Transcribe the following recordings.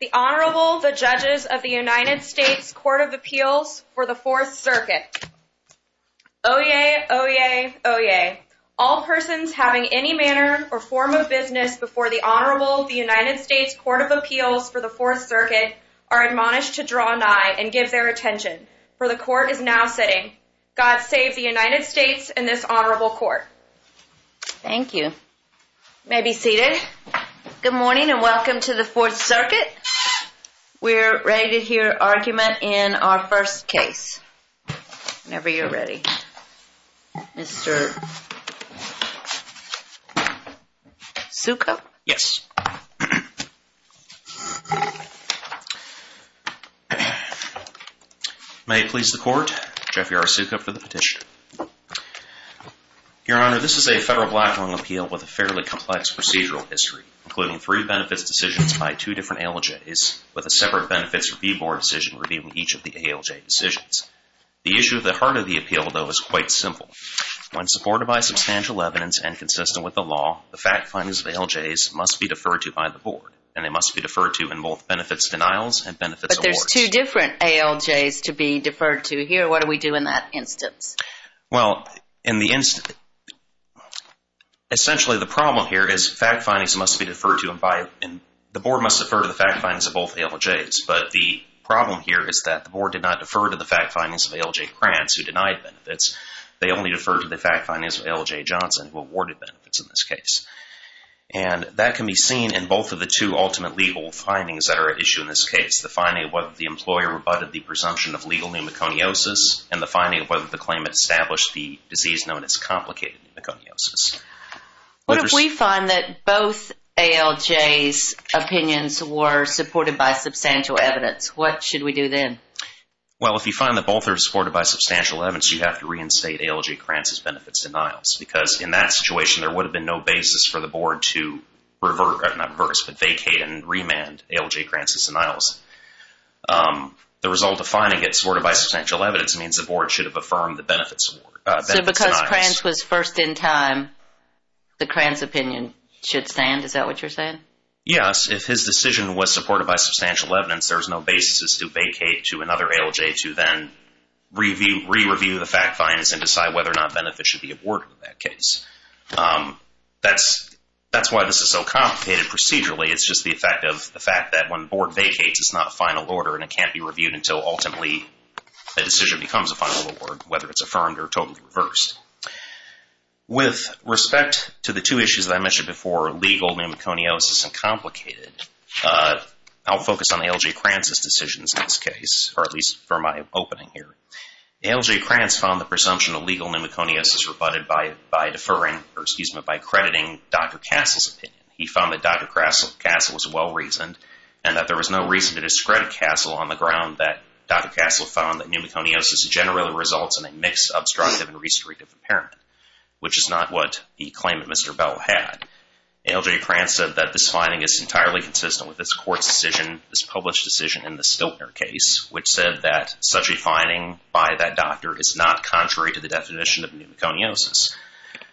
The Honorable, the Judges of the United States Court of Appeals for the Fourth Circuit. Oyez, oyez, oyez. All persons having any manner or form of business before the Honorable, the United States Court of Appeals for the Fourth Circuit are admonished to draw nigh and give their attention, for the Court is now sitting. God save the United States and this Honorable Court. Thank you. You may be seated. Good morning and welcome to the Fourth Circuit. We're ready to hear argument in our first case. Whenever you're ready. Mr. Sukup? Yes. May it please the Court. Jeffrey R. Sukup for the petition. Your Honor, this is a federal blackmail appeal with a fairly complex procedural history, including three benefits decisions by two different ALJs, with a separate benefits review board decision reviewing each of the ALJ decisions. The issue at the heart of the appeal, though, is quite simple. When supported by substantial evidence and consistent with the law, the fact findings of ALJs must be deferred to by the board, and they must be deferred to in both benefits denials and benefits awards. But there's two different ALJs to be deferred to here. So what do we do in that instance? Well, in the instance, essentially the problem here is fact findings must be deferred to by, the board must defer to the fact findings of both ALJs. But the problem here is that the board did not defer to the fact findings of ALJ Krantz, who denied benefits. They only deferred to the fact findings of ALJ Johnson, who awarded benefits in this case. And that can be seen in both of the two ultimate legal findings that are at issue in this case. The finding of whether the employer rebutted the presumption of legal pneumoconiosis and the finding of whether the claimant established the disease known as complicated pneumoconiosis. What if we find that both ALJs' opinions were supported by substantial evidence? What should we do then? Well, if you find that both are supported by substantial evidence, you have to reinstate ALJ Krantz's benefits denials because in that situation, there would have been no basis for the board to vacate and remand ALJ Krantz's denials. The result of finding it supported by substantial evidence means the board should have affirmed the benefits denials. So because Krantz was first in time, the Krantz opinion should stand? Is that what you're saying? Yes. If his decision was supported by substantial evidence, there's no basis to vacate to another ALJ to then re-review the fact findings and decide whether or not benefits should be awarded in that case. That's why this is so complicated procedurally. It's just the effect of the fact that when the board vacates, it's not a final order and it can't be reviewed until ultimately the decision becomes a final award, whether it's affirmed or totally reversed. With respect to the two issues that I mentioned before, legal pneumoconiosis and complicated, I'll focus on ALJ Krantz's decisions in this case, or at least for my opening here. ALJ Krantz found the presumption of legal pneumoconiosis rebutted by deferring, or excuse me, by crediting Dr. Castle's opinion. He found that Dr. Castle was well-reasoned and that there was no reason to discredit Castle on the ground that Dr. Castle found that pneumoconiosis generally results in a mixed, obstructive, and restrictive impairment, which is not what he claimed that Mr. Bell had. ALJ Krantz said that this finding is entirely consistent with this court's decision, this not contrary to the definition of pneumoconiosis.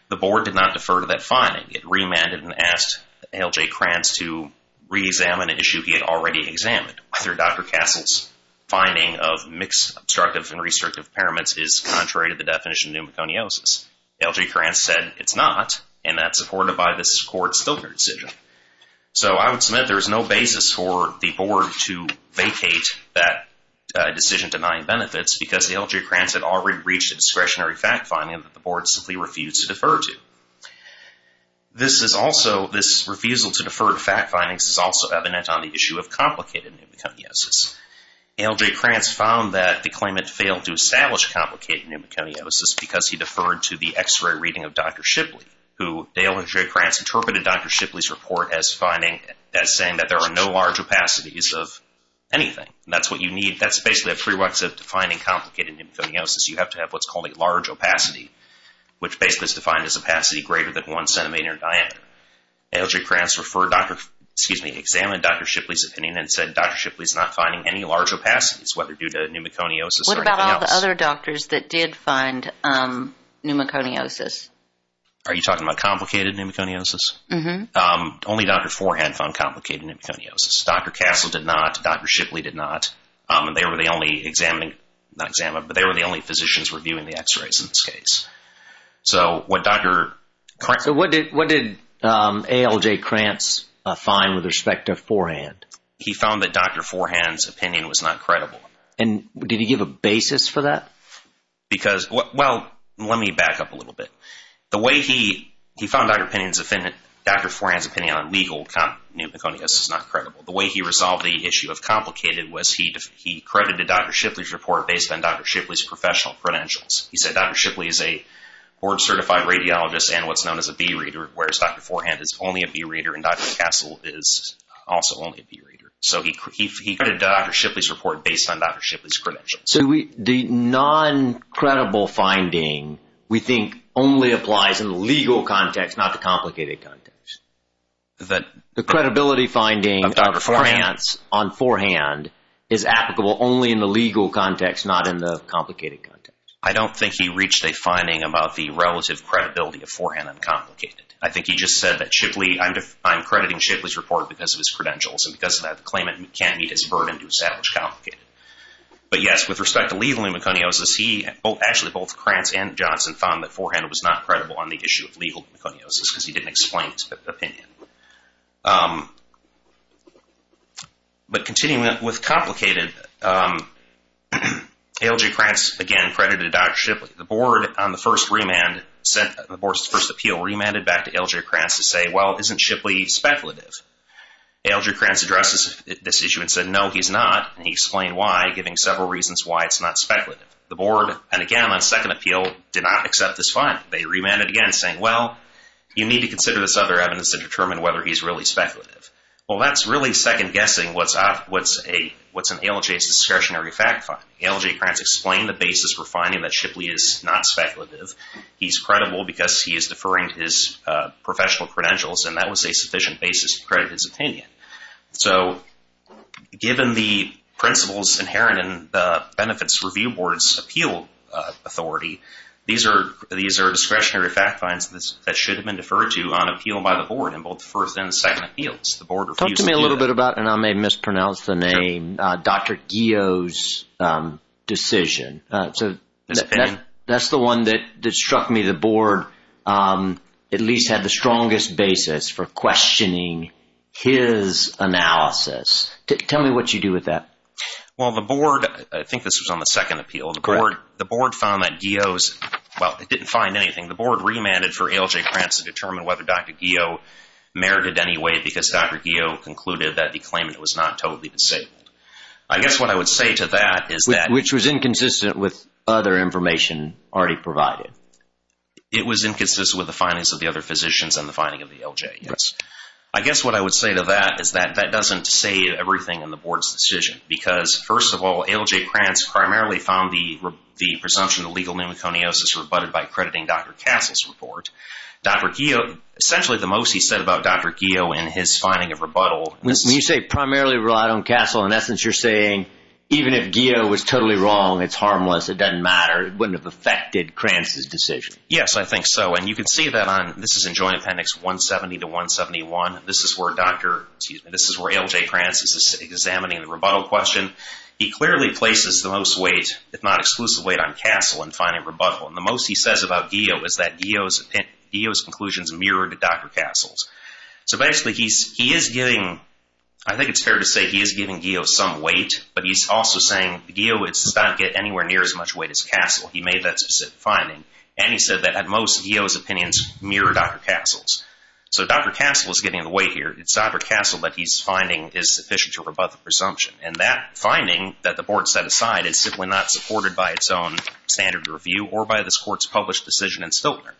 The board did not defer to that finding. It remanded and asked ALJ Krantz to re-examine an issue he had already examined, whether Dr. Castle's finding of mixed, obstructive, and restrictive impairments is contrary to the definition of pneumoconiosis. ALJ Krantz said it's not, and that's supported by this court's stilter decision. So I would submit there is no basis for the board to vacate that decision denying benefits because ALJ Krantz had already reached a discretionary fact finding that the board simply refused to defer to. This refusal to defer to fact findings is also evident on the issue of complicated pneumoconiosis. ALJ Krantz found that the claimant failed to establish complicated pneumoconiosis because he deferred to the x-ray reading of Dr. Shipley, who ALJ Krantz interpreted Dr. Shipley's report as saying that there are no large opacities of anything. That's basically a prerequisite to finding complicated pneumoconiosis. You have to have what's called a large opacity, which basically is defined as opacity greater than one centimeter in diameter. ALJ Krantz examined Dr. Shipley's opinion and said Dr. Shipley's not finding any large opacities, whether due to pneumoconiosis or anything else. What about all the other doctors that did find pneumoconiosis? Are you talking about complicated pneumoconiosis? Only Dr. Forehand found complicated pneumoconiosis. Dr. Castle did not. Dr. Shipley did not. They were the only physicians reviewing the x-rays in this case. What did ALJ Krantz find with respect to Forehand? He found that Dr. Forehand's opinion was not credible. Did he give a basis for that? Well, let me back up a little bit. The way he found Dr. Forehand's opinion on legal pneumoconiosis is not credible. The way he resolved the issue of complicated was he credited Dr. Shipley's report based on Dr. Shipley's professional credentials. He said Dr. Shipley is a board-certified radiologist and what's known as a B-reader, whereas Dr. Forehand is only a B-reader and Dr. Castle is also only a B-reader. So he credited Dr. Shipley's report based on Dr. Shipley's credentials. So the non-credible finding we think only applies in the legal context, not the complicated context. The credibility finding of Dr. Forehand's on Forehand is applicable only in the legal context, not in the complicated context. I don't think he reached a finding about the relative credibility of Forehand on Complicated. I think he just said that I'm crediting Shipley's report because of his credentials and because of that claimant can't meet his burden to establish Complicated. But yes, with respect to legal pneumoconiosis, he, actually both Krantz and Johnson found that Forehand was not credible on the issue of legal pneumoconiosis because he didn't explain his opinion. But continuing with Complicated, A.L.J. Krantz again credited Dr. Shipley. The board on the first remand, the board's first appeal remanded back to A.L.J. Krantz to say, well, isn't Shipley speculative? A.L.J. Krantz addresses this issue and said, no, he's not. And he explained why, giving several reasons why it's not speculative. The board, and again on second appeal, did not accept this finding. They remanded again saying, well, you need to consider this other evidence to determine whether he's really speculative. Well, that's really second guessing what's in A.L.J.'s discretionary fact finding. A.L.J. Krantz explained the basis for finding that Shipley is not speculative. He's credible because he is deferring to his professional credentials, and that was a sufficient basis to credit his opinion. So given the principles inherent in the Benefits Review Board's appeal authority, these are discretionary fact finds that should have been deferred to on appeal by the board in both the first and the second appeals. The board refused to do that. Talk to me a little bit about, and I may mispronounce the name, Dr. Gio's decision. His opinion? That's the one that struck me. The board at least had the strongest basis for questioning his analysis. Tell me what you do with that. Well, the board, I think this was on the second appeal. The board found that Gio's, well, it didn't find anything. The board remanded for A.L.J. Krantz to determine whether Dr. Gio merited any weight because Dr. Gio concluded that the claimant was not totally disabled. I guess what I would say to that is that Which was inconsistent with other information already provided. It was inconsistent with the findings of the other physicians and the finding of the L.J. Yes. I guess what I would say to that is that that doesn't say everything in the board's decision because first of all, A.L.J. Krantz primarily found the presumption of legal pneumoconiosis rebutted by accrediting Dr. Castle's report. Dr. Gio, essentially the most he said about Dr. Gio and his finding of rebuttal. When you say primarily relied on Castle, in essence you're saying even if Gio was totally wrong, it's harmless, it doesn't matter, it wouldn't have affected Krantz's decision. Yes, I think so. And you can see that on, this is in Joint Appendix 170 to 171. This is where Dr., excuse me, this is where A.L.J. Krantz is examining the rebuttal question. He clearly places the most weight, if not exclusive weight, on Castle in finding rebuttal. And the most he says about Gio is that Gio's conclusions mirrored Dr. Castle's. So basically he is giving, I think it's fair to say he is giving Gio some weight, but he's also saying Gio does not get anywhere near as much weight as Castle. He made that specific finding. And he said that at most Gio's opinions mirrored Dr. Castle's. So Dr. Castle is getting the weight here. It's Dr. Castle that he's finding is sufficient to rebut the presumption. And that finding that the board set aside is simply not supported by its own standard review or by this court's published decision in Stiltner,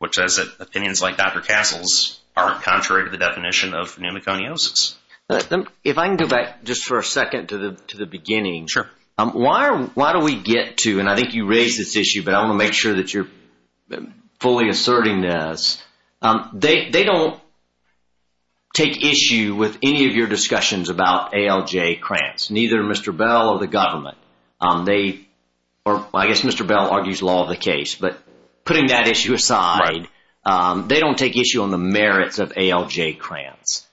which says that opinions like Dr. Castle's are contrary to the definition of pneumoconiosis. If I can go back just for a second to the beginning. Sure. Why do we get to, and I think you raised this issue, but I want to make sure that you're fully asserting this. They don't take issue with any of your discussions about A.L.J. Krantz, neither Mr. Bell or the government. I guess Mr. Bell argues law of the case. But putting that issue aside, they don't take issue on the merits of A.L.J. Krantz.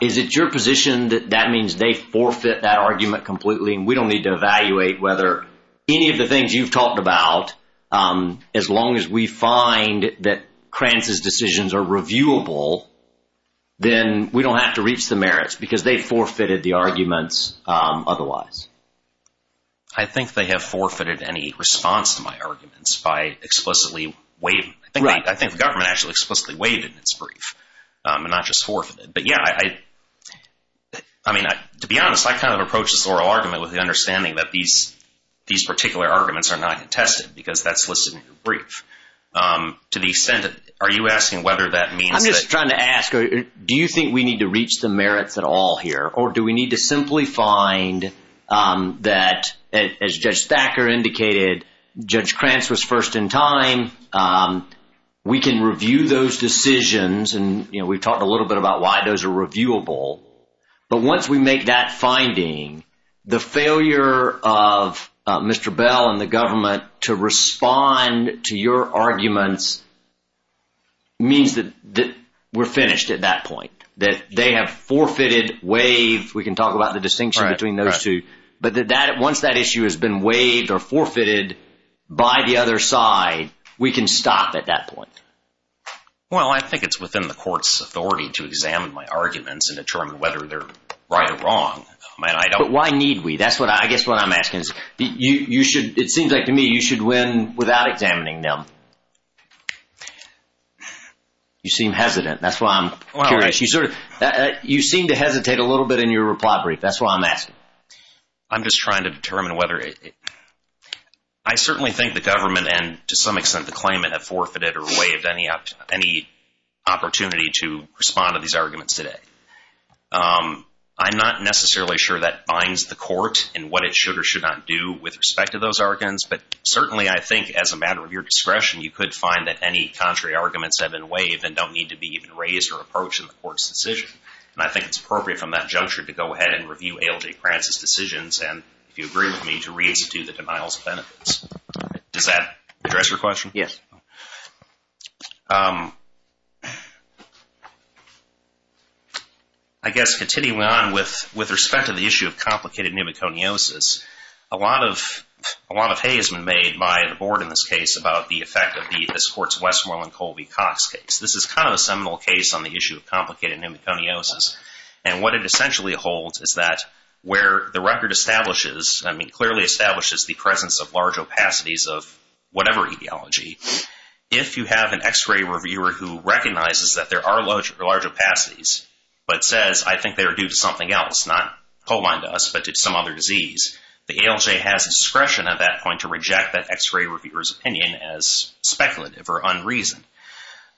Is it your position that that means they forfeit that argument completely and we don't need to evaluate whether any of the things you've talked about, as long as we find that Krantz's decisions are reviewable, then we don't have to reach the merits because they forfeited the arguments otherwise. I think they have forfeited any response to my arguments by explicitly waiving. I think the government actually explicitly waived in its brief and not just forfeited. But yeah, I mean, to be honest, I kind of approach this oral argument with the understanding that these particular arguments are not contested because that's listed in the brief. To the extent that, are you asking whether that means that. I'm just trying to ask, do you think we need to reach the merits at all here or do we need to simply find that, as Judge Thacker indicated, Judge Krantz was first in time. We can review those decisions and, you know, we've talked a little bit about why those are reviewable. But once we make that finding, the failure of Mr. Bell and the government to respond to your arguments means that we're finished at that point, that they have forfeited, waived. We can talk about the distinction between those two. But once that issue has been waived or forfeited by the other side, we can stop at that point. Well, I think it's within the court's authority to examine my arguments and determine whether they're right or wrong. But why need we? I guess what I'm asking is, you should, it seems like to me, you should win without examining them. You seem hesitant. That's why I'm curious. You seem to hesitate a little bit in your reply brief. That's why I'm asking. I'm just trying to determine whether it, I certainly think the government and to some extent the claimant have forfeited or waived any opportunity to respond to these arguments today. I'm not necessarily sure that binds the court in what it should or should not do with respect to those arguments. But certainly I think as a matter of your discretion, you could find that any contrary arguments have been waived and don't need to be even raised or approached in the court's decision. And I think it's appropriate from that juncture to go ahead and review A.L.J. Prance's decisions and if you agree with me, to re-institute the denials of benefits. Does that address your question? Yes. I guess continuing on with respect to the issue of complicated pneumoconiosis, a lot of hay has been made by the board in this case about the effect of this court's Westmoreland Colby-Cox case. This is kind of a seminal case on the issue of complicated pneumoconiosis. And what it essentially holds is that where the record establishes, I mean, clearly establishes the presence of large opacities of whatever etiology, if you have an x-ray reviewer who recognizes that there are large opacities, but says, I think they're due to something else, not co-aligned to us, but to some other disease, the A.L.J. has discretion at that point to reject that x-ray reviewer's opinion as speculative or unreasoned.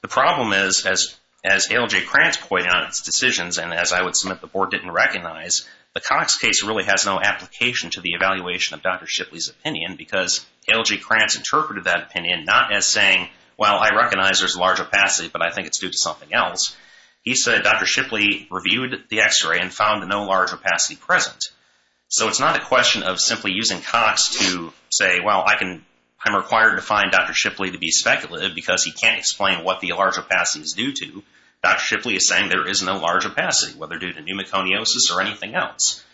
The problem is, as A.L.J. Prance pointed out in its decisions, and as I would submit the board didn't recognize, the Cox case really has no application to the evaluation of Dr. Shipley's opinion because A.L.J. Prance interpreted that opinion not as saying, well, I recognize there's a large opacity, but I think it's due to something else. He said Dr. Shipley reviewed the x-ray and found no large opacity present. So it's not a question of simply using Cox to say, well, I'm required to find Dr. Shipley to be speculative because he can't explain what the large opacity is due to. Dr. Shipley is saying there is no large opacity, whether due to pneumoconiosis or anything else.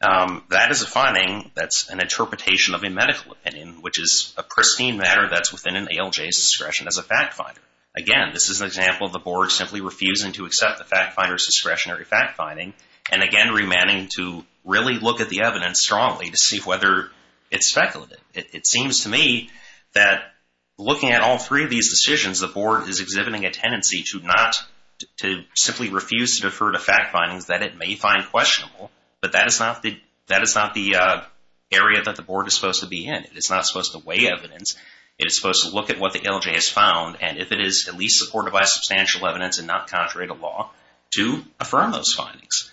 That is a finding that's an interpretation of a medical opinion, which is a pristine matter that's within an A.L.J.'s discretion as a fact finder. Again, this is an example of the board simply refusing to accept the fact finder's discretionary fact finding and again, remaining to really look at the evidence strongly to see whether it's speculative. It seems to me that looking at all three of these decisions, the board is exhibiting a tendency to not, to simply refuse to defer to fact findings that it may find questionable, but that is not the area that the board is supposed to be in. It's not supposed to weigh evidence. It is supposed to look at what the A.L.J. has found, and if it is at least supported by substantial evidence and not contrary to law, to affirm those findings.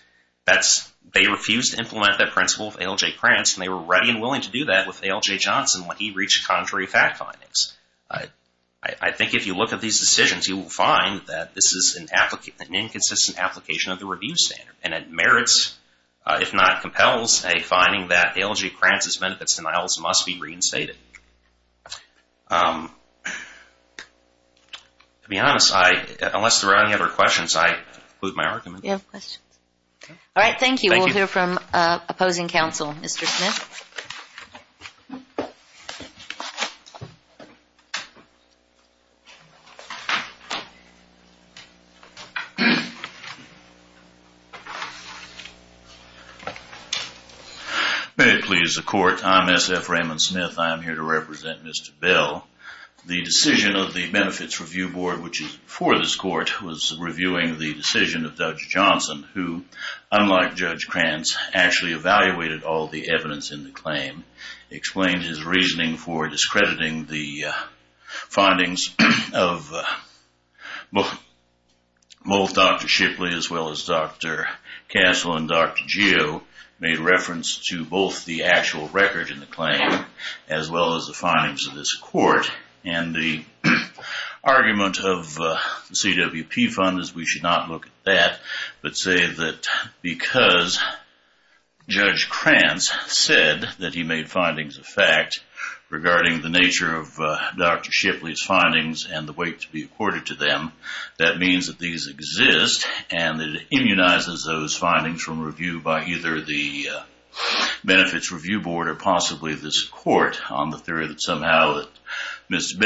They refused to implement that principle of A.L.J. Prance, and they were ready and willing to do that with A.L.J. Johnson when he reached contrary fact findings. I think if you look at these decisions, you will find that this is an inconsistent application of the review standard, and it merits, if not compels, a finding that A.L.J. Prance's benefits denials must be reinstated. To be honest, unless there are any other questions, I conclude my argument. Do you have questions? All right, thank you. Thank you. We'll hear from opposing counsel, Mr. Smith. May it please the Court, I'm S.F. Raymond Smith. I am here to represent Mr. Bell. The decision of the Benefits Review Board, which is before this Court, was reviewing the decision of Judge Johnson, who, unlike Judge Prance, actually evaluated all the evidence in the claim, findings of both Dr. Shipley as well as Dr. Castle and Dr. Geo, made reference to both the actual record in the claim as well as the findings of this Court. And the argument of the CWP Fund is we should not look at that, but say that because Judge Prance said that he made findings of fact regarding the nature of Dr. Shipley's findings and the weight to be accorded to them, that means that these exist and that it immunizes those findings from review by either the Benefits Review Board or possibly this Court on the theory that somehow Ms.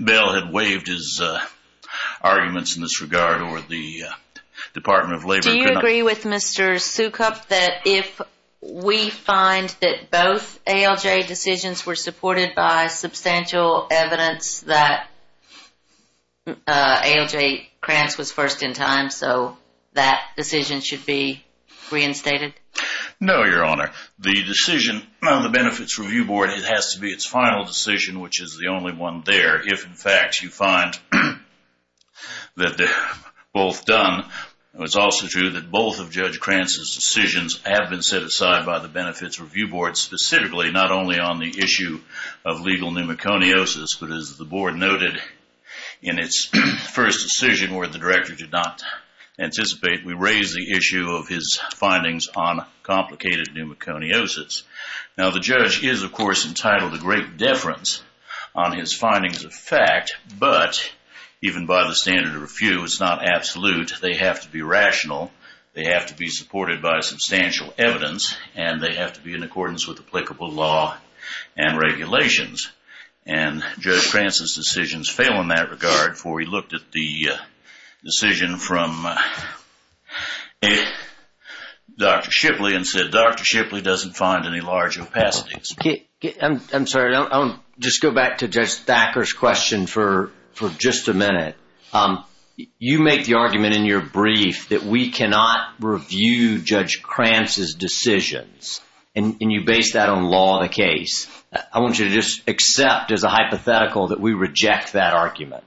Bell had waived his arguments in this regard or the Department of Labor could not. Mr. Sukup, that if we find that both ALJ decisions were supported by substantial evidence that ALJ Prance was first in time, so that decision should be reinstated? No, Your Honor. The decision on the Benefits Review Board has to be its final decision, which is the only one there. If, in fact, you find that they're both done, it's also true that both of Judge Prance's decisions have been set aside by the Benefits Review Board specifically not only on the issue of legal pneumoconiosis, but as the Board noted in its first decision where the Director did not anticipate, we raised the issue of his findings on complicated pneumoconiosis. Now, the judge is, of course, entitled to great deference on his findings of fact, but even by the standard of refute, it's not absolute. They have to be rational, they have to be supported by substantial evidence, and they have to be in accordance with applicable law and regulations. And Judge Prance's decisions fail in that regard, for he looked at the decision from Dr. Shipley and said, Dr. Shipley doesn't find any large opacities. I'm sorry, I'll just go back to Judge Thacker's question for just a minute. You make the argument in your brief that we cannot review Judge Prance's decisions, and you base that on law of the case. I want you to just accept as a hypothetical that we reject that argument.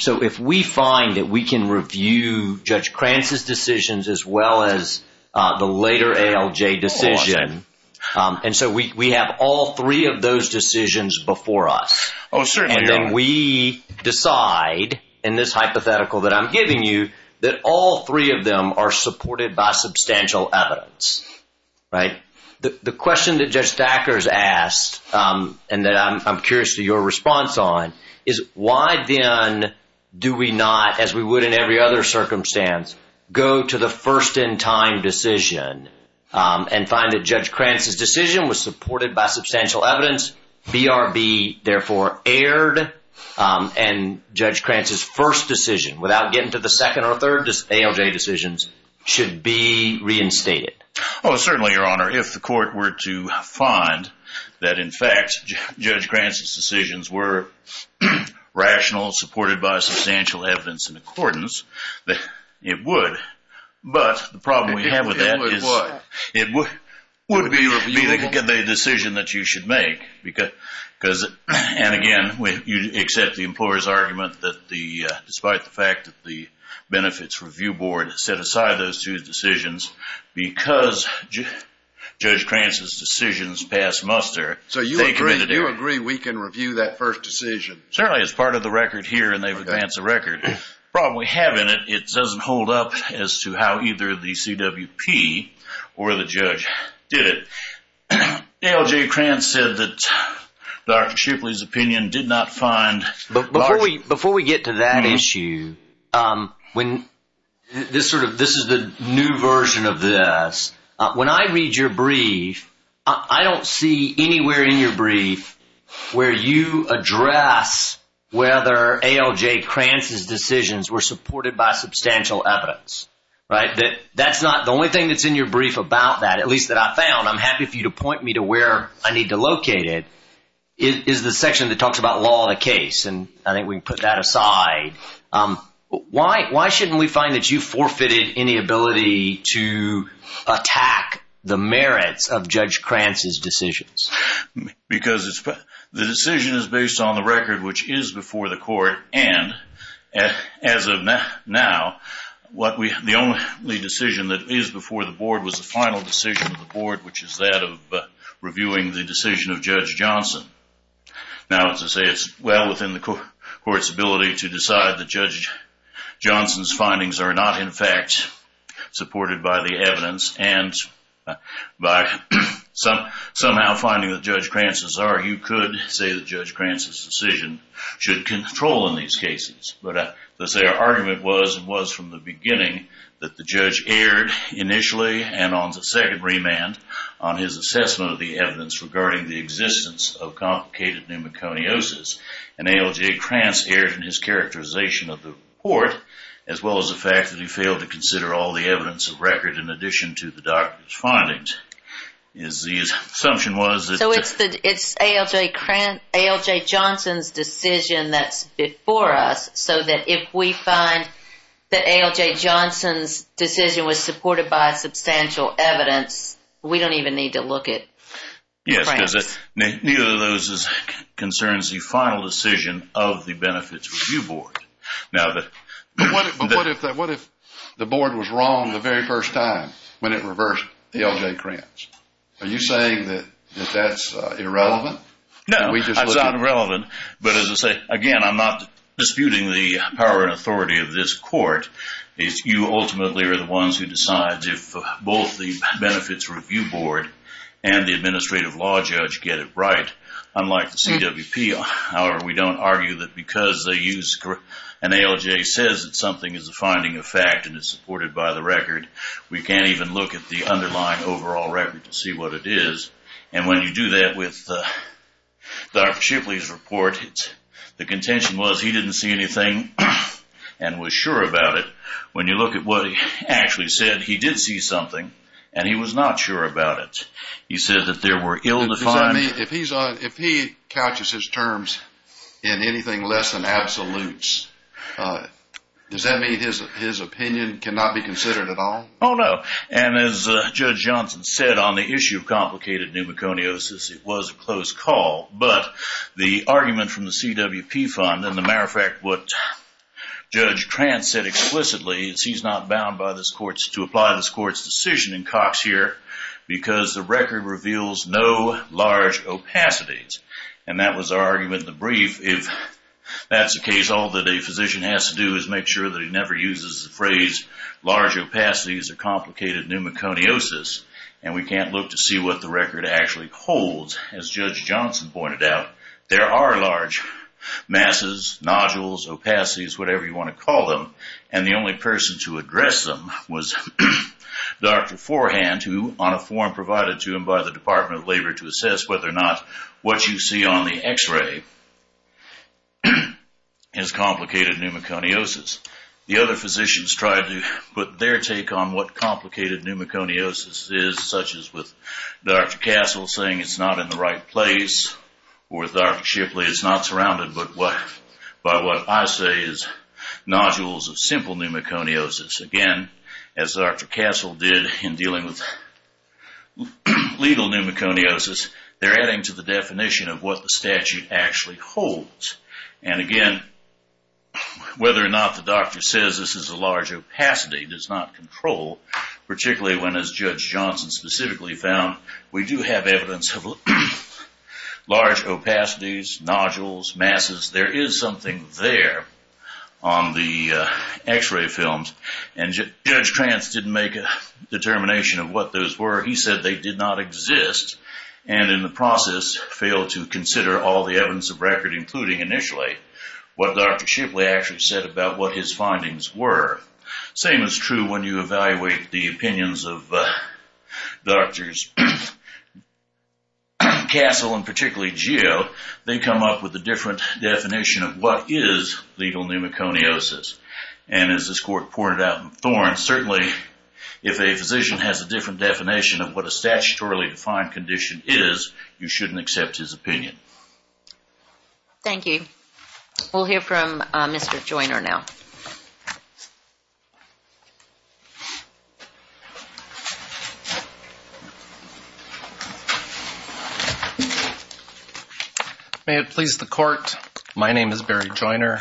So if we find that we can review Judge Prance's decisions as well as the later ALJ decision, and so we have all three of those decisions before us, and then we decide in this hypothetical that I'm giving you that all three of them are supported by substantial evidence, right? The question that Judge Thacker's asked and that I'm curious to your response on is why then do we not, as we would in every other circumstance, go to the first-in-time decision and find that Judge Prance's decision was supported by substantial evidence, BRB therefore erred, and Judge Prance's first decision, without getting to the second or third ALJ decisions, should be reinstated? Oh, certainly, Your Honor. If the court were to find that, in fact, Judge Prance's decisions were rational, supported by substantial evidence in accordance, it would. But the problem we have with that is it would be the decision that you should make. And again, you accept the employer's argument that despite the fact that the Benefits Review Board set aside those two decisions because Judge Prance's decisions pass muster. So you agree we can review that first decision? Certainly. It's part of the record here, and they've advanced the record. The problem we have in it, it doesn't hold up as to how either the CWP or the judge did it. ALJ Prance said that Dr. Shipley's opinion did not find large— When I read your brief, I don't see anywhere in your brief where you address whether ALJ Prance's decisions were supported by substantial evidence, right? That's not the only thing that's in your brief about that, at least that I found. I'm happy for you to point me to where I need to locate it, is the section that talks about law of the case. And I think we can put that aside. Why shouldn't we find that you forfeited any ability to attack the merits of Judge Prance's decisions? Because the decision is based on the record, which is before the court. And as of now, the only decision that is before the board was the final decision of the board, which is that of reviewing the decision of Judge Johnson. Now, as I say, it's well within the court's ability to decide that Judge Johnson's findings are not, in fact, supported by the evidence. And by somehow finding that Judge Prance's are, you could say that Judge Prance's decision should control in these cases. But as I say, our argument was and was from the beginning that the judge erred initially and on the second remand on his assessment of the evidence regarding the existence of complicated pneumoconiosis. And ALJ Prance erred in his characterization of the report, as well as the fact that he failed to consider all the evidence of record in addition to the doctor's findings. So it's ALJ Johnson's decision that's before us, so that if we find that ALJ Johnson's decision was supported by substantial evidence, we don't even need to look at Judge Prance's. Yes, because neither of those concerns the final decision of the Benefits Review Board. But what if the board was wrong the very first time when it reversed ALJ Prance? Are you saying that that's irrelevant? No, it's not irrelevant. But as I say, again, I'm not disputing the power and authority of this court. You ultimately are the ones who decide if both the Benefits Review Board and the Administrative Law Judge get it right, unlike the CWP. However, we don't argue that because an ALJ says that something is a finding of fact and is supported by the record, we can't even look at the underlying overall record to see what it is. And when you do that with Dr. Shipley's report, the contention was he didn't see anything and was sure about it. When you look at what he actually said, he did see something and he was not sure about it. If he couches his terms in anything less than absolutes, does that mean his opinion cannot be considered at all? Oh, no. And as Judge Johnson said on the issue of complicated pneumoconiosis, it was a close call. But the argument from the CWP fund, and as a matter of fact, what Judge Prance said explicitly, is he's not bound to apply this court's decision in Cox here because the record reveals no large opacities. And that was our argument in the brief. If that's the case, all that a physician has to do is make sure that he never uses the phrase large opacities or complicated pneumoconiosis, and we can't look to see what the record actually holds. As Judge Johnson pointed out, there are large masses, nodules, opacities, whatever you want to call them. And the only person to address them was Dr. Forehand, who on a form provided to him by the Department of Labor to assess whether or not what you see on the x-ray is complicated pneumoconiosis. The other physicians tried to put their take on what complicated pneumoconiosis is, such as with Dr. Castle saying it's not in the right place, or Dr. Shipley, it's not surrounded, but what I say is nodules of simple pneumoconiosis. Again, as Dr. Castle did in dealing with legal pneumoconiosis, they're adding to the definition of what the statute actually holds. And again, whether or not the doctor says this is a large opacity does not control, particularly when, as Judge Johnson specifically found, we do have evidence of large opacities, nodules, masses. There is something there on the x-ray films. And Judge Trance didn't make a determination of what those were. He said they did not exist, and in the process, failed to consider all the evidence of record, including initially, what Dr. Shipley actually said about what his findings were. Same is true when you evaluate the opinions of Drs. Castle and particularly Gio. They come up with a different definition of what is legal pneumoconiosis. And as this court pointed out in Thorne, certainly if a physician has a different definition of what a statutorily defined condition is, you shouldn't accept his opinion. Thank you. We'll hear from Mr. Joiner now. May it please the court, my name is Barry Joiner,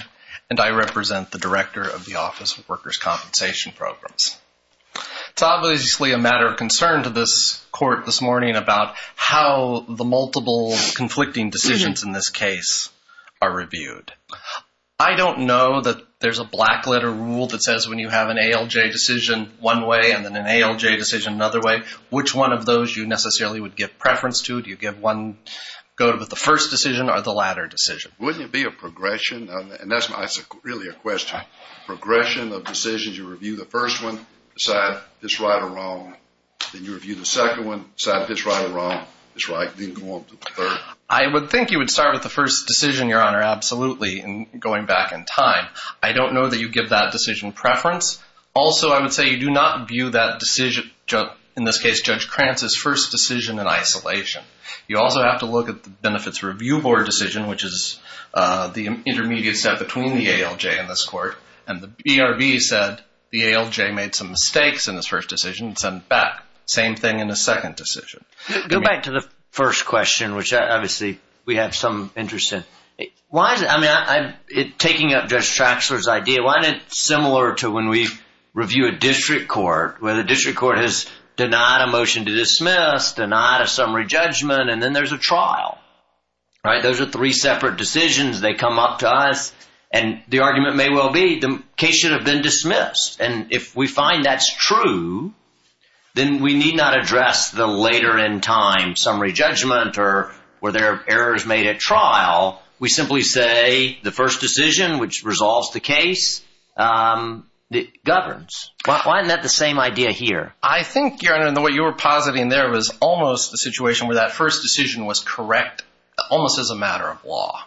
and I represent the Director of the Office of Workers' Compensation Programs. It's obviously a matter of concern to this court this morning about how the multiple conflicting decisions in this case are reviewed. I don't know that there's a black letter rule that says when you have an ALJ decision one way and then an ALJ decision another way, which one of those you necessarily would give preference to. Do you give one, go with the first decision or the latter decision? Wouldn't it be a progression? And that's really a question. Progression of decisions, you review the first one, decide if it's right or wrong. Then you review the second one, decide if it's right or wrong. I would think you would start with the first decision, Your Honor, absolutely, going back in time. I don't know that you give that decision preference. Also, I would say you do not view that decision, in this case, Judge Krantz's first decision in isolation. You also have to look at the Benefits Review Board decision, which is the intermediate step between the ALJ and this court. And the BRB said the ALJ made some mistakes in his first decision and sent it back. Same thing in his second decision. Go back to the first question, which obviously we have some interest in. Why is it, I mean, taking up Judge Traxler's idea, why isn't it similar to when we review a district court where the district court has denied a motion to dismiss, denied a summary judgment, and then there's a trial? All right, those are three separate decisions. They come up to us and the argument may well be the case should have been dismissed. And if we find that's true, then we need not address the later in time summary judgment or were there errors made at trial. We simply say the first decision, which resolves the case, governs. Why isn't that the same idea here? I think, Your Honor, in the way you were positing there, it was almost a situation where that first decision was correct almost as a matter of law.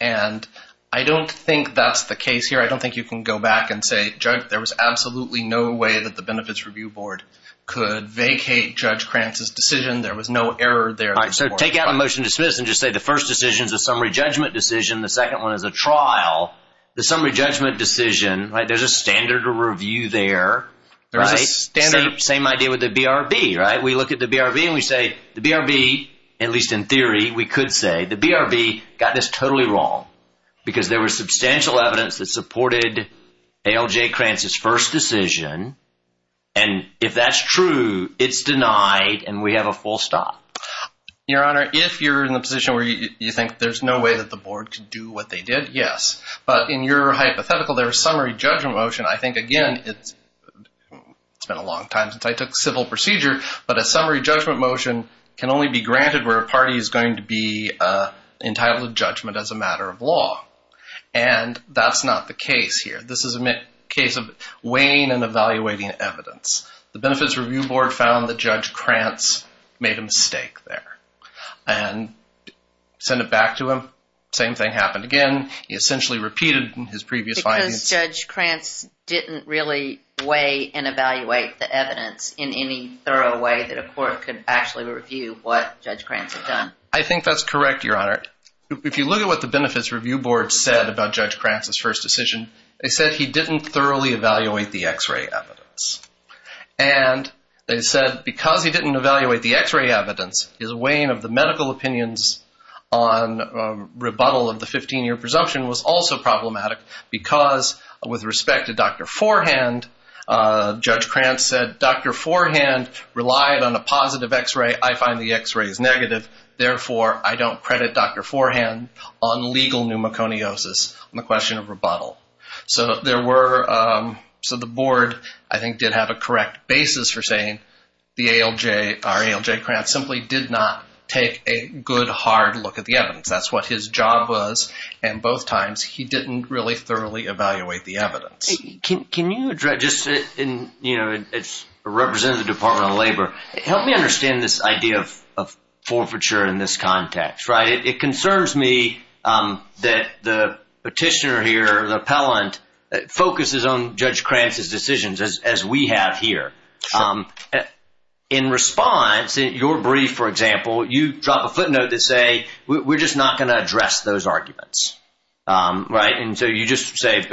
And I don't think that's the case here. I don't think you can go back and say, Judge, there was absolutely no way that the Benefits Review Board could vacate Judge Krantz's decision. There was no error there. All right, so take out a motion to dismiss and just say the first decision is a summary judgment decision. The second one is a trial. The summary judgment decision, right, there's a standard to review there, right? Same idea with the BRB, right? We look at the BRB and we say the BRB, at least in theory, we could say the BRB got this totally wrong because there was substantial evidence that supported A.L.J. Krantz's first decision. And if that's true, it's denied and we have a full stop. Your Honor, if you're in the position where you think there's no way that the board could do what they did, yes. But in your hypothetical, there was a summary judgment motion. I think, again, it's been a long time since I took civil procedure, but a summary judgment motion can only be granted where a party is going to be entitled to judgment as a matter of law. And that's not the case here. This is a case of weighing and evaluating evidence. The Benefits Review Board found that Judge Krantz made a mistake there and sent it back to him. Same thing happened again. He essentially repeated his previous findings. So Judge Krantz didn't really weigh and evaluate the evidence in any thorough way that a court could actually review what Judge Krantz had done. I think that's correct, Your Honor. If you look at what the Benefits Review Board said about Judge Krantz's first decision, they said he didn't thoroughly evaluate the X-ray evidence. And they said because he didn't evaluate the X-ray evidence, his weighing of the medical opinions on rebuttal of the 15-year presumption was also problematic because with respect to Dr. Forehand, Judge Krantz said, Dr. Forehand relied on a positive X-ray. I find the X-ray is negative. Therefore, I don't credit Dr. Forehand on legal pneumoconiosis on the question of rebuttal. So the board, I think, did have a correct basis for saying our ALJ Krantz simply did not take a good, hard look at the evidence. That's what his job was. And both times he didn't really thoroughly evaluate the evidence. Can you address just in, you know, as a representative of the Department of Labor, help me understand this idea of forfeiture in this context, right? It concerns me that the petitioner here, the appellant, focuses on Judge Krantz's decisions as we have here. In response, in your brief, for example, you drop a footnote that say, we're just not going to address those arguments, right? And so you just say,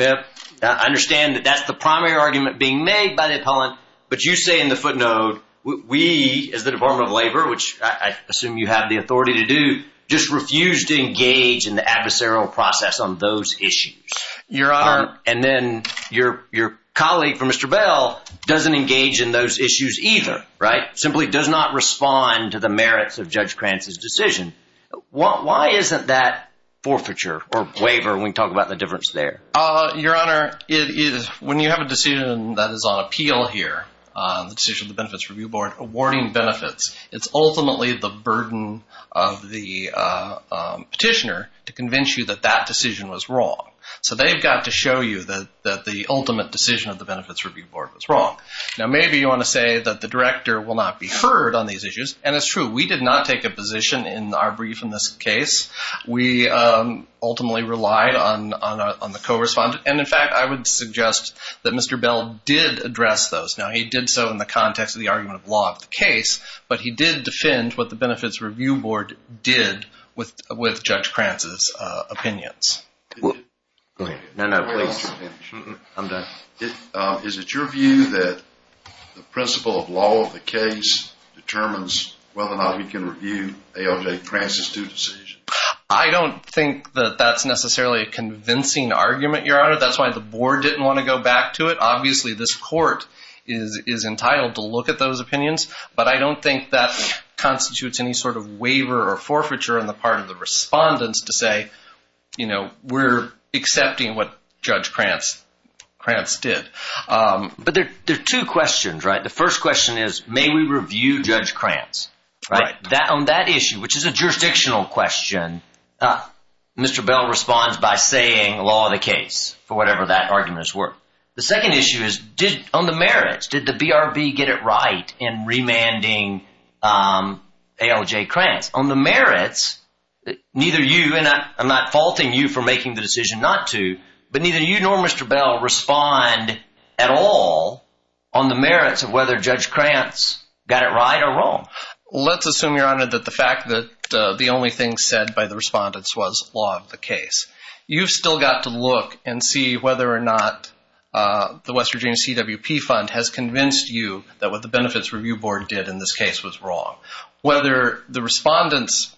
I understand that that's the primary argument being made by the appellant. But you say in the footnote, we as the Department of Labor, which I assume you have the authority to do, just refuse to engage in the adversarial process on those issues. Your Honor, and then your colleague, Mr. Bell, doesn't engage in those issues either, right? Simply does not respond to the merits of Judge Krantz's decision. Why isn't that forfeiture or waiver when we talk about the difference there? Your Honor, when you have a decision that is on appeal here, the decision of the Benefits Review Board awarding benefits, it's ultimately the burden of the petitioner to convince you that that decision was wrong. So they've got to show you that the ultimate decision of the Benefits Review Board was wrong. Now, maybe you want to say that the director will not be heard on these issues. And it's true. We did not take a position in our brief in this case. We ultimately relied on the co-respondent. And in fact, I would suggest that Mr. Bell did address those. Now, he did so in the context of the argument of law of the case, but he did defend what the Benefits Review Board did with Judge Krantz's opinions. No, no, please. I'm done. Is it your view that the principle of law of the case determines whether or not we can review A.L.J. Krantz's due decision? I don't think that that's necessarily a convincing argument, Your Honor. That's why the board didn't want to go back to it. Obviously, this court is entitled to look at those opinions, but I don't think that constitutes any sort of waiver or forfeiture on the part of the respondents to say, you know, we're accepting what Judge Krantz did. But there are two questions, right? The first question is may we review Judge Krantz? Right. On that issue, which is a jurisdictional question, Mr. Bell responds by saying law of the case for whatever that argument is worth. The second issue is on the merits, did the BRB get it right in remanding A.L.J. Krantz? On the merits, neither you, and I'm not faulting you for making the decision not to, but neither you nor Mr. Bell respond at all on the merits of whether Judge Krantz got it right or wrong. Let's assume, Your Honor, that the fact that the only thing said by the respondents was law of the case. You've still got to look and see whether or not the West Virginia CWP Fund has convinced you that what the Benefits Review Board did in this case was wrong. Whether the respondents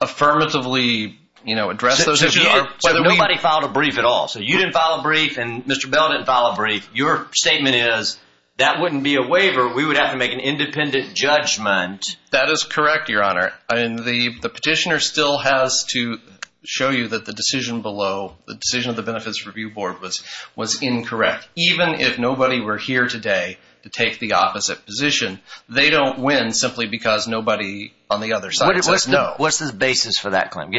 affirmatively, you know, addressed those issues. So nobody filed a brief at all. So you didn't file a brief and Mr. Bell didn't file a brief. Your statement is that wouldn't be a waiver. We would have to make an independent judgment. That is correct, Your Honor. And the petitioner still has to show you that the decision below, the decision of the Benefits Review Board was incorrect. Even if nobody were here today to take the opposite position, they don't win simply because nobody on the other side says no. What's the basis for that claim?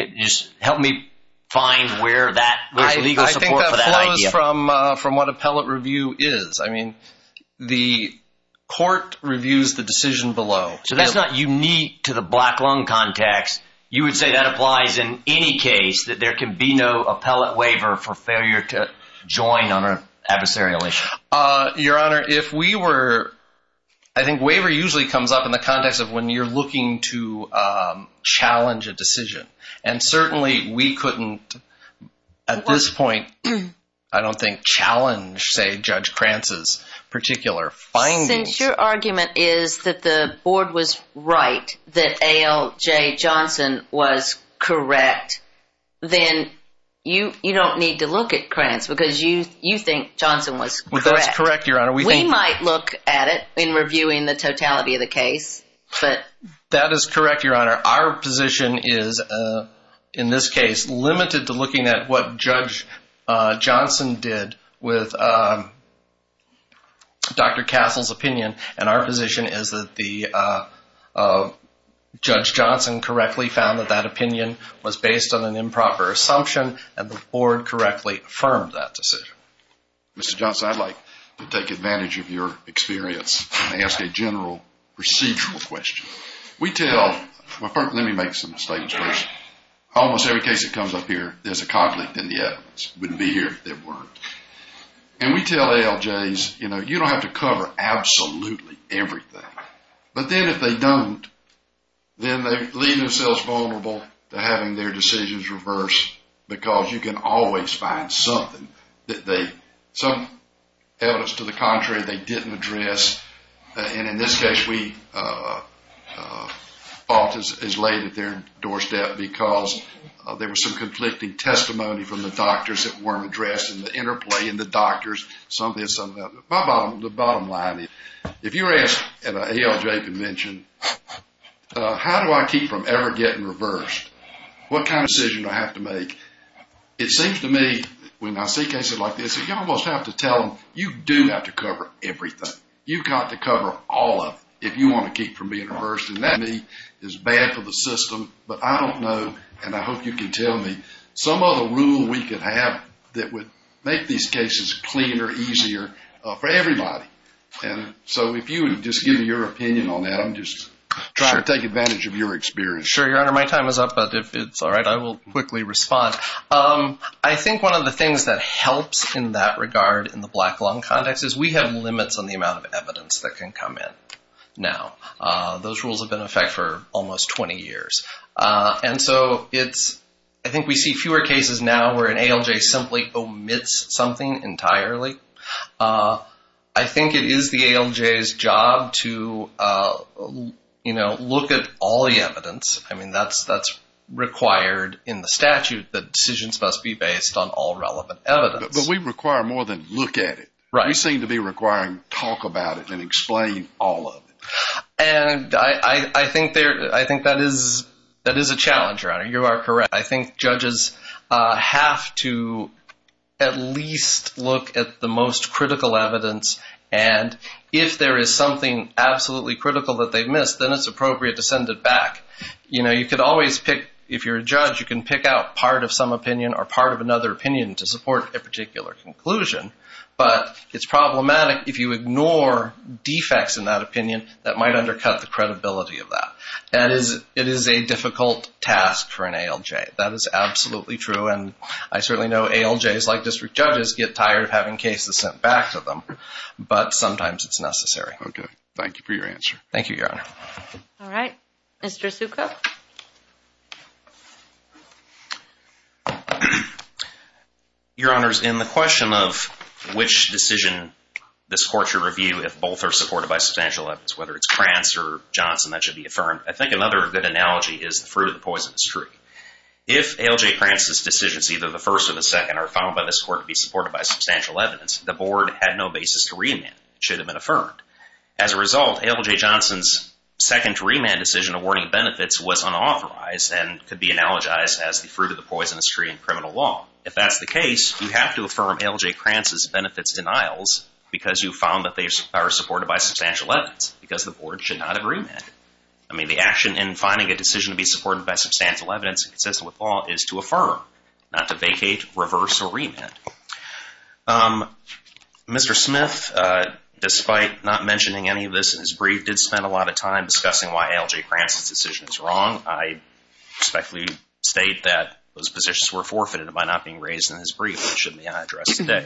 Help me find where that legal support for that idea. I think that flows from what appellate review is. I mean, the court reviews the decision below. So that's not unique to the black lung context. You would say that applies in any case that there can be no appellate waiver for failure to join on an adversarial issue. Your Honor, if we were, I think waiver usually comes up in the context of when you're looking to challenge a decision. And certainly we couldn't at this point, I don't think, challenge, say, Judge Krantz's particular findings. Since your argument is that the board was right, that A.L.J. Johnson was correct, then you don't need to look at Krantz because you think Johnson was correct. That's correct, Your Honor. We might look at it in reviewing the totality of the case. That is correct, Your Honor. Our position is, in this case, limited to looking at what Judge Johnson did with Dr. Castle's opinion. And our position is that Judge Johnson correctly found that that opinion was based on an improper assumption and the board correctly affirmed that decision. Mr. Johnson, I'd like to take advantage of your experience and ask a general procedural question. We tell, let me make some statements first. Almost every case that comes up here, there's a conflict in the evidence. It wouldn't be here if there weren't. And we tell A.L.J.'s, you know, you don't have to cover absolutely everything. But then if they don't, then they leave themselves vulnerable to having their decisions reversed because you can always find something that they, some evidence to the contrary they didn't address. And in this case, we fought as late at their doorstep because there was some conflicting testimony from the doctors that weren't addressed and the interplay in the doctors. My bottom line is, if you're asked at an A.L.J. convention, how do I keep from ever getting reversed? What kind of decision do I have to make? It seems to me, when I see cases like this, you almost have to tell them, you do have to cover everything. You've got to cover all of it if you want to keep from being reversed. And that, to me, is bad for the system. But I don't know, and I hope you can tell me, some other rule we could have that would make these cases cleaner, easier for everybody. And so if you would just give your opinion on that, I'm just trying to take advantage of your experience. Sure, Your Honor. My time is up. But if it's all right, I will quickly respond. I think one of the things that helps in that regard in the black lung context is we have limits on the amount of evidence that can come in now. Those rules have been in effect for almost 20 years. And so I think we see fewer cases now where an A.L.J. simply omits something entirely. I think it is the A.L.J.'s job to look at all the evidence. I mean, that's required in the statute that decisions must be based on all relevant evidence. But we require more than look at it. We seem to be requiring talk about it and explain all of it. And I think that is a challenge, Your Honor. You are correct. I think judges have to at least look at the most critical evidence. And if there is something absolutely critical that they missed, then it's appropriate to send it back. You know, you could always pick, if you're a judge, you can pick out part of some opinion or part of another opinion to support a particular conclusion. But it's problematic if you ignore defects in that opinion that might undercut the credibility of that. It is a difficult task for an A.L.J. That is absolutely true. And I certainly know A.L.J.'s, like district judges, get tired of having cases sent back to them. But sometimes it's necessary. Okay. Thank you for your answer. Thank you, Your Honor. All right. Mr. Succo? Your Honors, in the question of which decision this court should review if both are supported by substantial evidence, whether it's Krantz or Johnson, that should be affirmed. I think another good analogy is the fruit of the poisonous tree. If A.L.J. Krantz's decisions, either the first or the second, are found by this court to be supported by substantial evidence, the board had no basis to remand. It should have been affirmed. As a result, A.L.J. Johnson's second remand decision awarding benefits was unauthorized and could be analogized as the fruit of the poisonous tree in criminal law. If that's the case, you have to affirm A.L.J. Krantz's benefits denials because you found that they are supported by substantial evidence because the board should not have remanded. I mean, the action in finding a decision to be supported by substantial evidence and consistent with law is to affirm, not to vacate, reverse, or remand. Mr. Smith, despite not mentioning any of this in his brief, did spend a lot of time discussing why A.L.J. Krantz's decision is wrong. I respectfully state that those positions were forfeited by not being raised in his brief, which shouldn't be addressed today.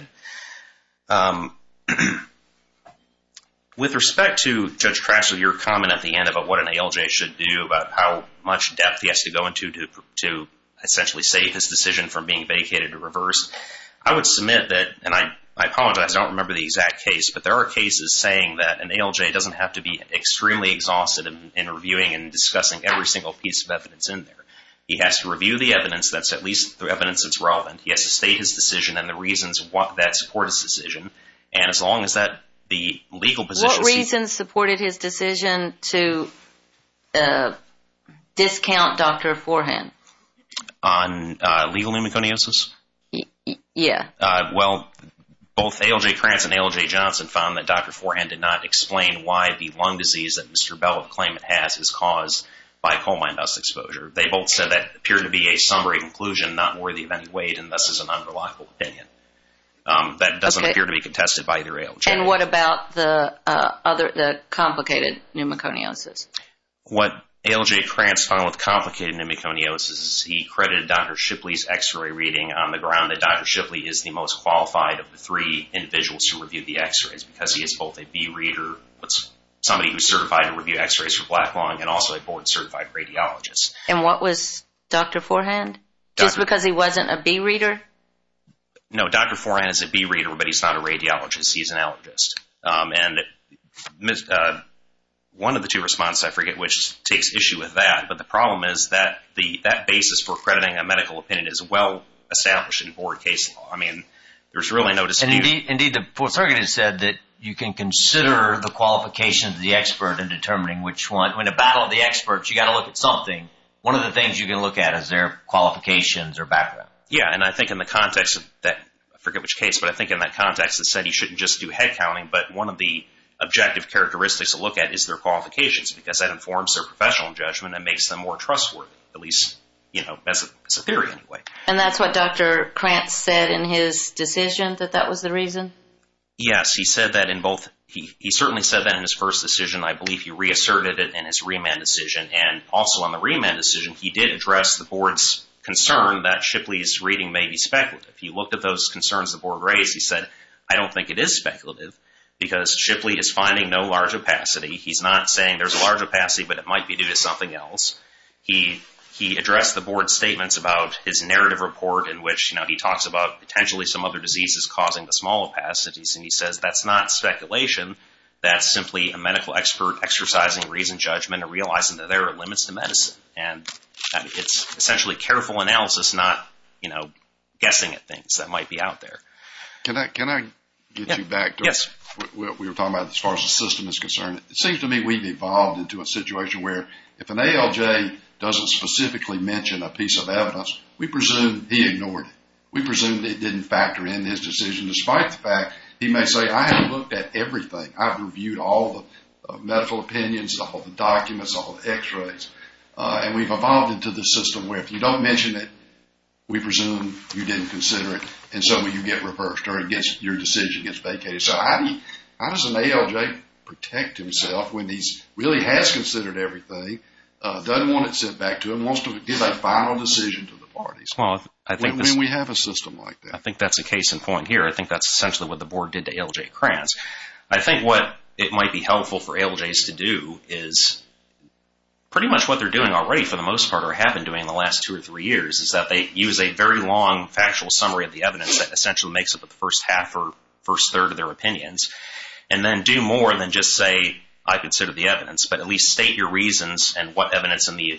With respect to Judge Cratchit, your comment at the end about what an A.L.J. should do, about how much depth he has to go into to essentially save his decision from being vacated or reversed, I would submit that, and I apologize, I don't remember the exact case, but there are cases saying that an A.L.J. doesn't have to be extremely exhausted in reviewing and discussing every single piece of evidence in there. He has to review the evidence that's at least the evidence that's relevant. He has to state his decision and the reasons that support his decision. What reasons supported his decision to discount Dr. Forehand? On legal pneumoconiosis? Yeah. Well, both A.L.J. Krantz and A.L.J. Johnson found that Dr. Forehand did not explain why the lung disease that Mr. Bell claimed it has is caused by coal mine dust exposure. They both said that appeared to be a summary conclusion not worthy of any weight and thus is an unreliable opinion. That doesn't appear to be contested by either A.L.J. And what about the complicated pneumoconiosis? What A.L.J. Krantz found with complicated pneumoconiosis is he credited Dr. Shipley's X-ray reading on the ground that Dr. Shipley is the most qualified of the three individuals who reviewed the X-rays because he is both a B-reader, somebody who's certified to review X-rays for black lung, and also a board-certified radiologist. And what was Dr. Forehand? Just because he wasn't a B-reader? No, Dr. Forehand is a B-reader, but he's not a radiologist. He's an allergist. And one of the two responses, I forget which, takes issue with that, but the problem is that that basis for crediting a medical opinion is well-established in board case law. I mean, there's really no dispute. Indeed, the fourth argument said that you can consider the qualifications of the expert in determining which one. In a battle of the experts, you've got to look at something. One of the things you can look at is their qualifications or background. Yeah, and I think in the context of that, I forget which case, but I think in that context it said he shouldn't just do head counting, but one of the objective characteristics to look at is their qualifications because that informs their professional judgment and makes them more trustworthy, at least, you know, as a theory anyway. And that's what Dr. Krantz said in his decision, that that was the reason? Yes, he said that in both. He certainly said that in his first decision. I believe he reasserted it in his remand decision, and also in the remand decision, he did address the board's concern that Shipley's reading may be speculative. He looked at those concerns the board raised. He said, I don't think it is speculative because Shipley is finding no large opacity. He's not saying there's a large opacity, but it might be due to something else. He addressed the board's statements about his narrative report in which, you know, he talks about potentially some other diseases causing the small opacities, and he says that's not speculation, that's simply a medical expert exercising reason judgment and realizing that there are limits to medicine. And it's essentially careful analysis, not, you know, guessing at things that might be out there. Can I get you back to what we were talking about as far as the system is concerned? It seems to me we've evolved into a situation where if an ALJ doesn't specifically mention a piece of evidence, we presume he ignored it. We presume that he didn't factor in his decision. Despite the fact, he may say, I haven't looked at everything. I've reviewed all the medical opinions, all the documents, all the x-rays, and we've evolved into the system where if you don't mention it, we presume you didn't consider it, and so you get reversed, or your decision gets vacated. So how does an ALJ protect himself when he really has considered everything, doesn't want it sent back to him, wants to give a final decision to the parties? We have a system like that. I think that's a case in point here. I think that's essentially what the Board did to ALJ Kranz. I think what it might be helpful for ALJs to do is pretty much what they're doing already, for the most part, or have been doing in the last two or three years, is that they use a very long factual summary of the evidence that essentially makes up the first half or first third of their opinions, and then do more than just say, I consider the evidence, but at least state your reasons and what evidence in the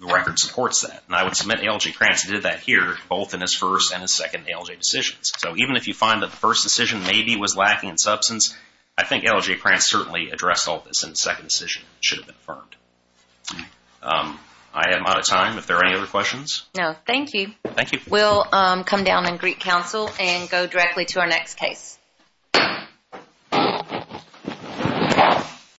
record supports that. And I would submit ALJ Kranz did that here, both in his first and his second ALJ decisions. So even if you find that the first decision maybe was lacking in substance, I think ALJ Kranz certainly addressed all this in the second decision. It should have been affirmed. I am out of time. If there are any other questions? No. Thank you. Thank you. We'll come down and greet counsel and go directly to our next case.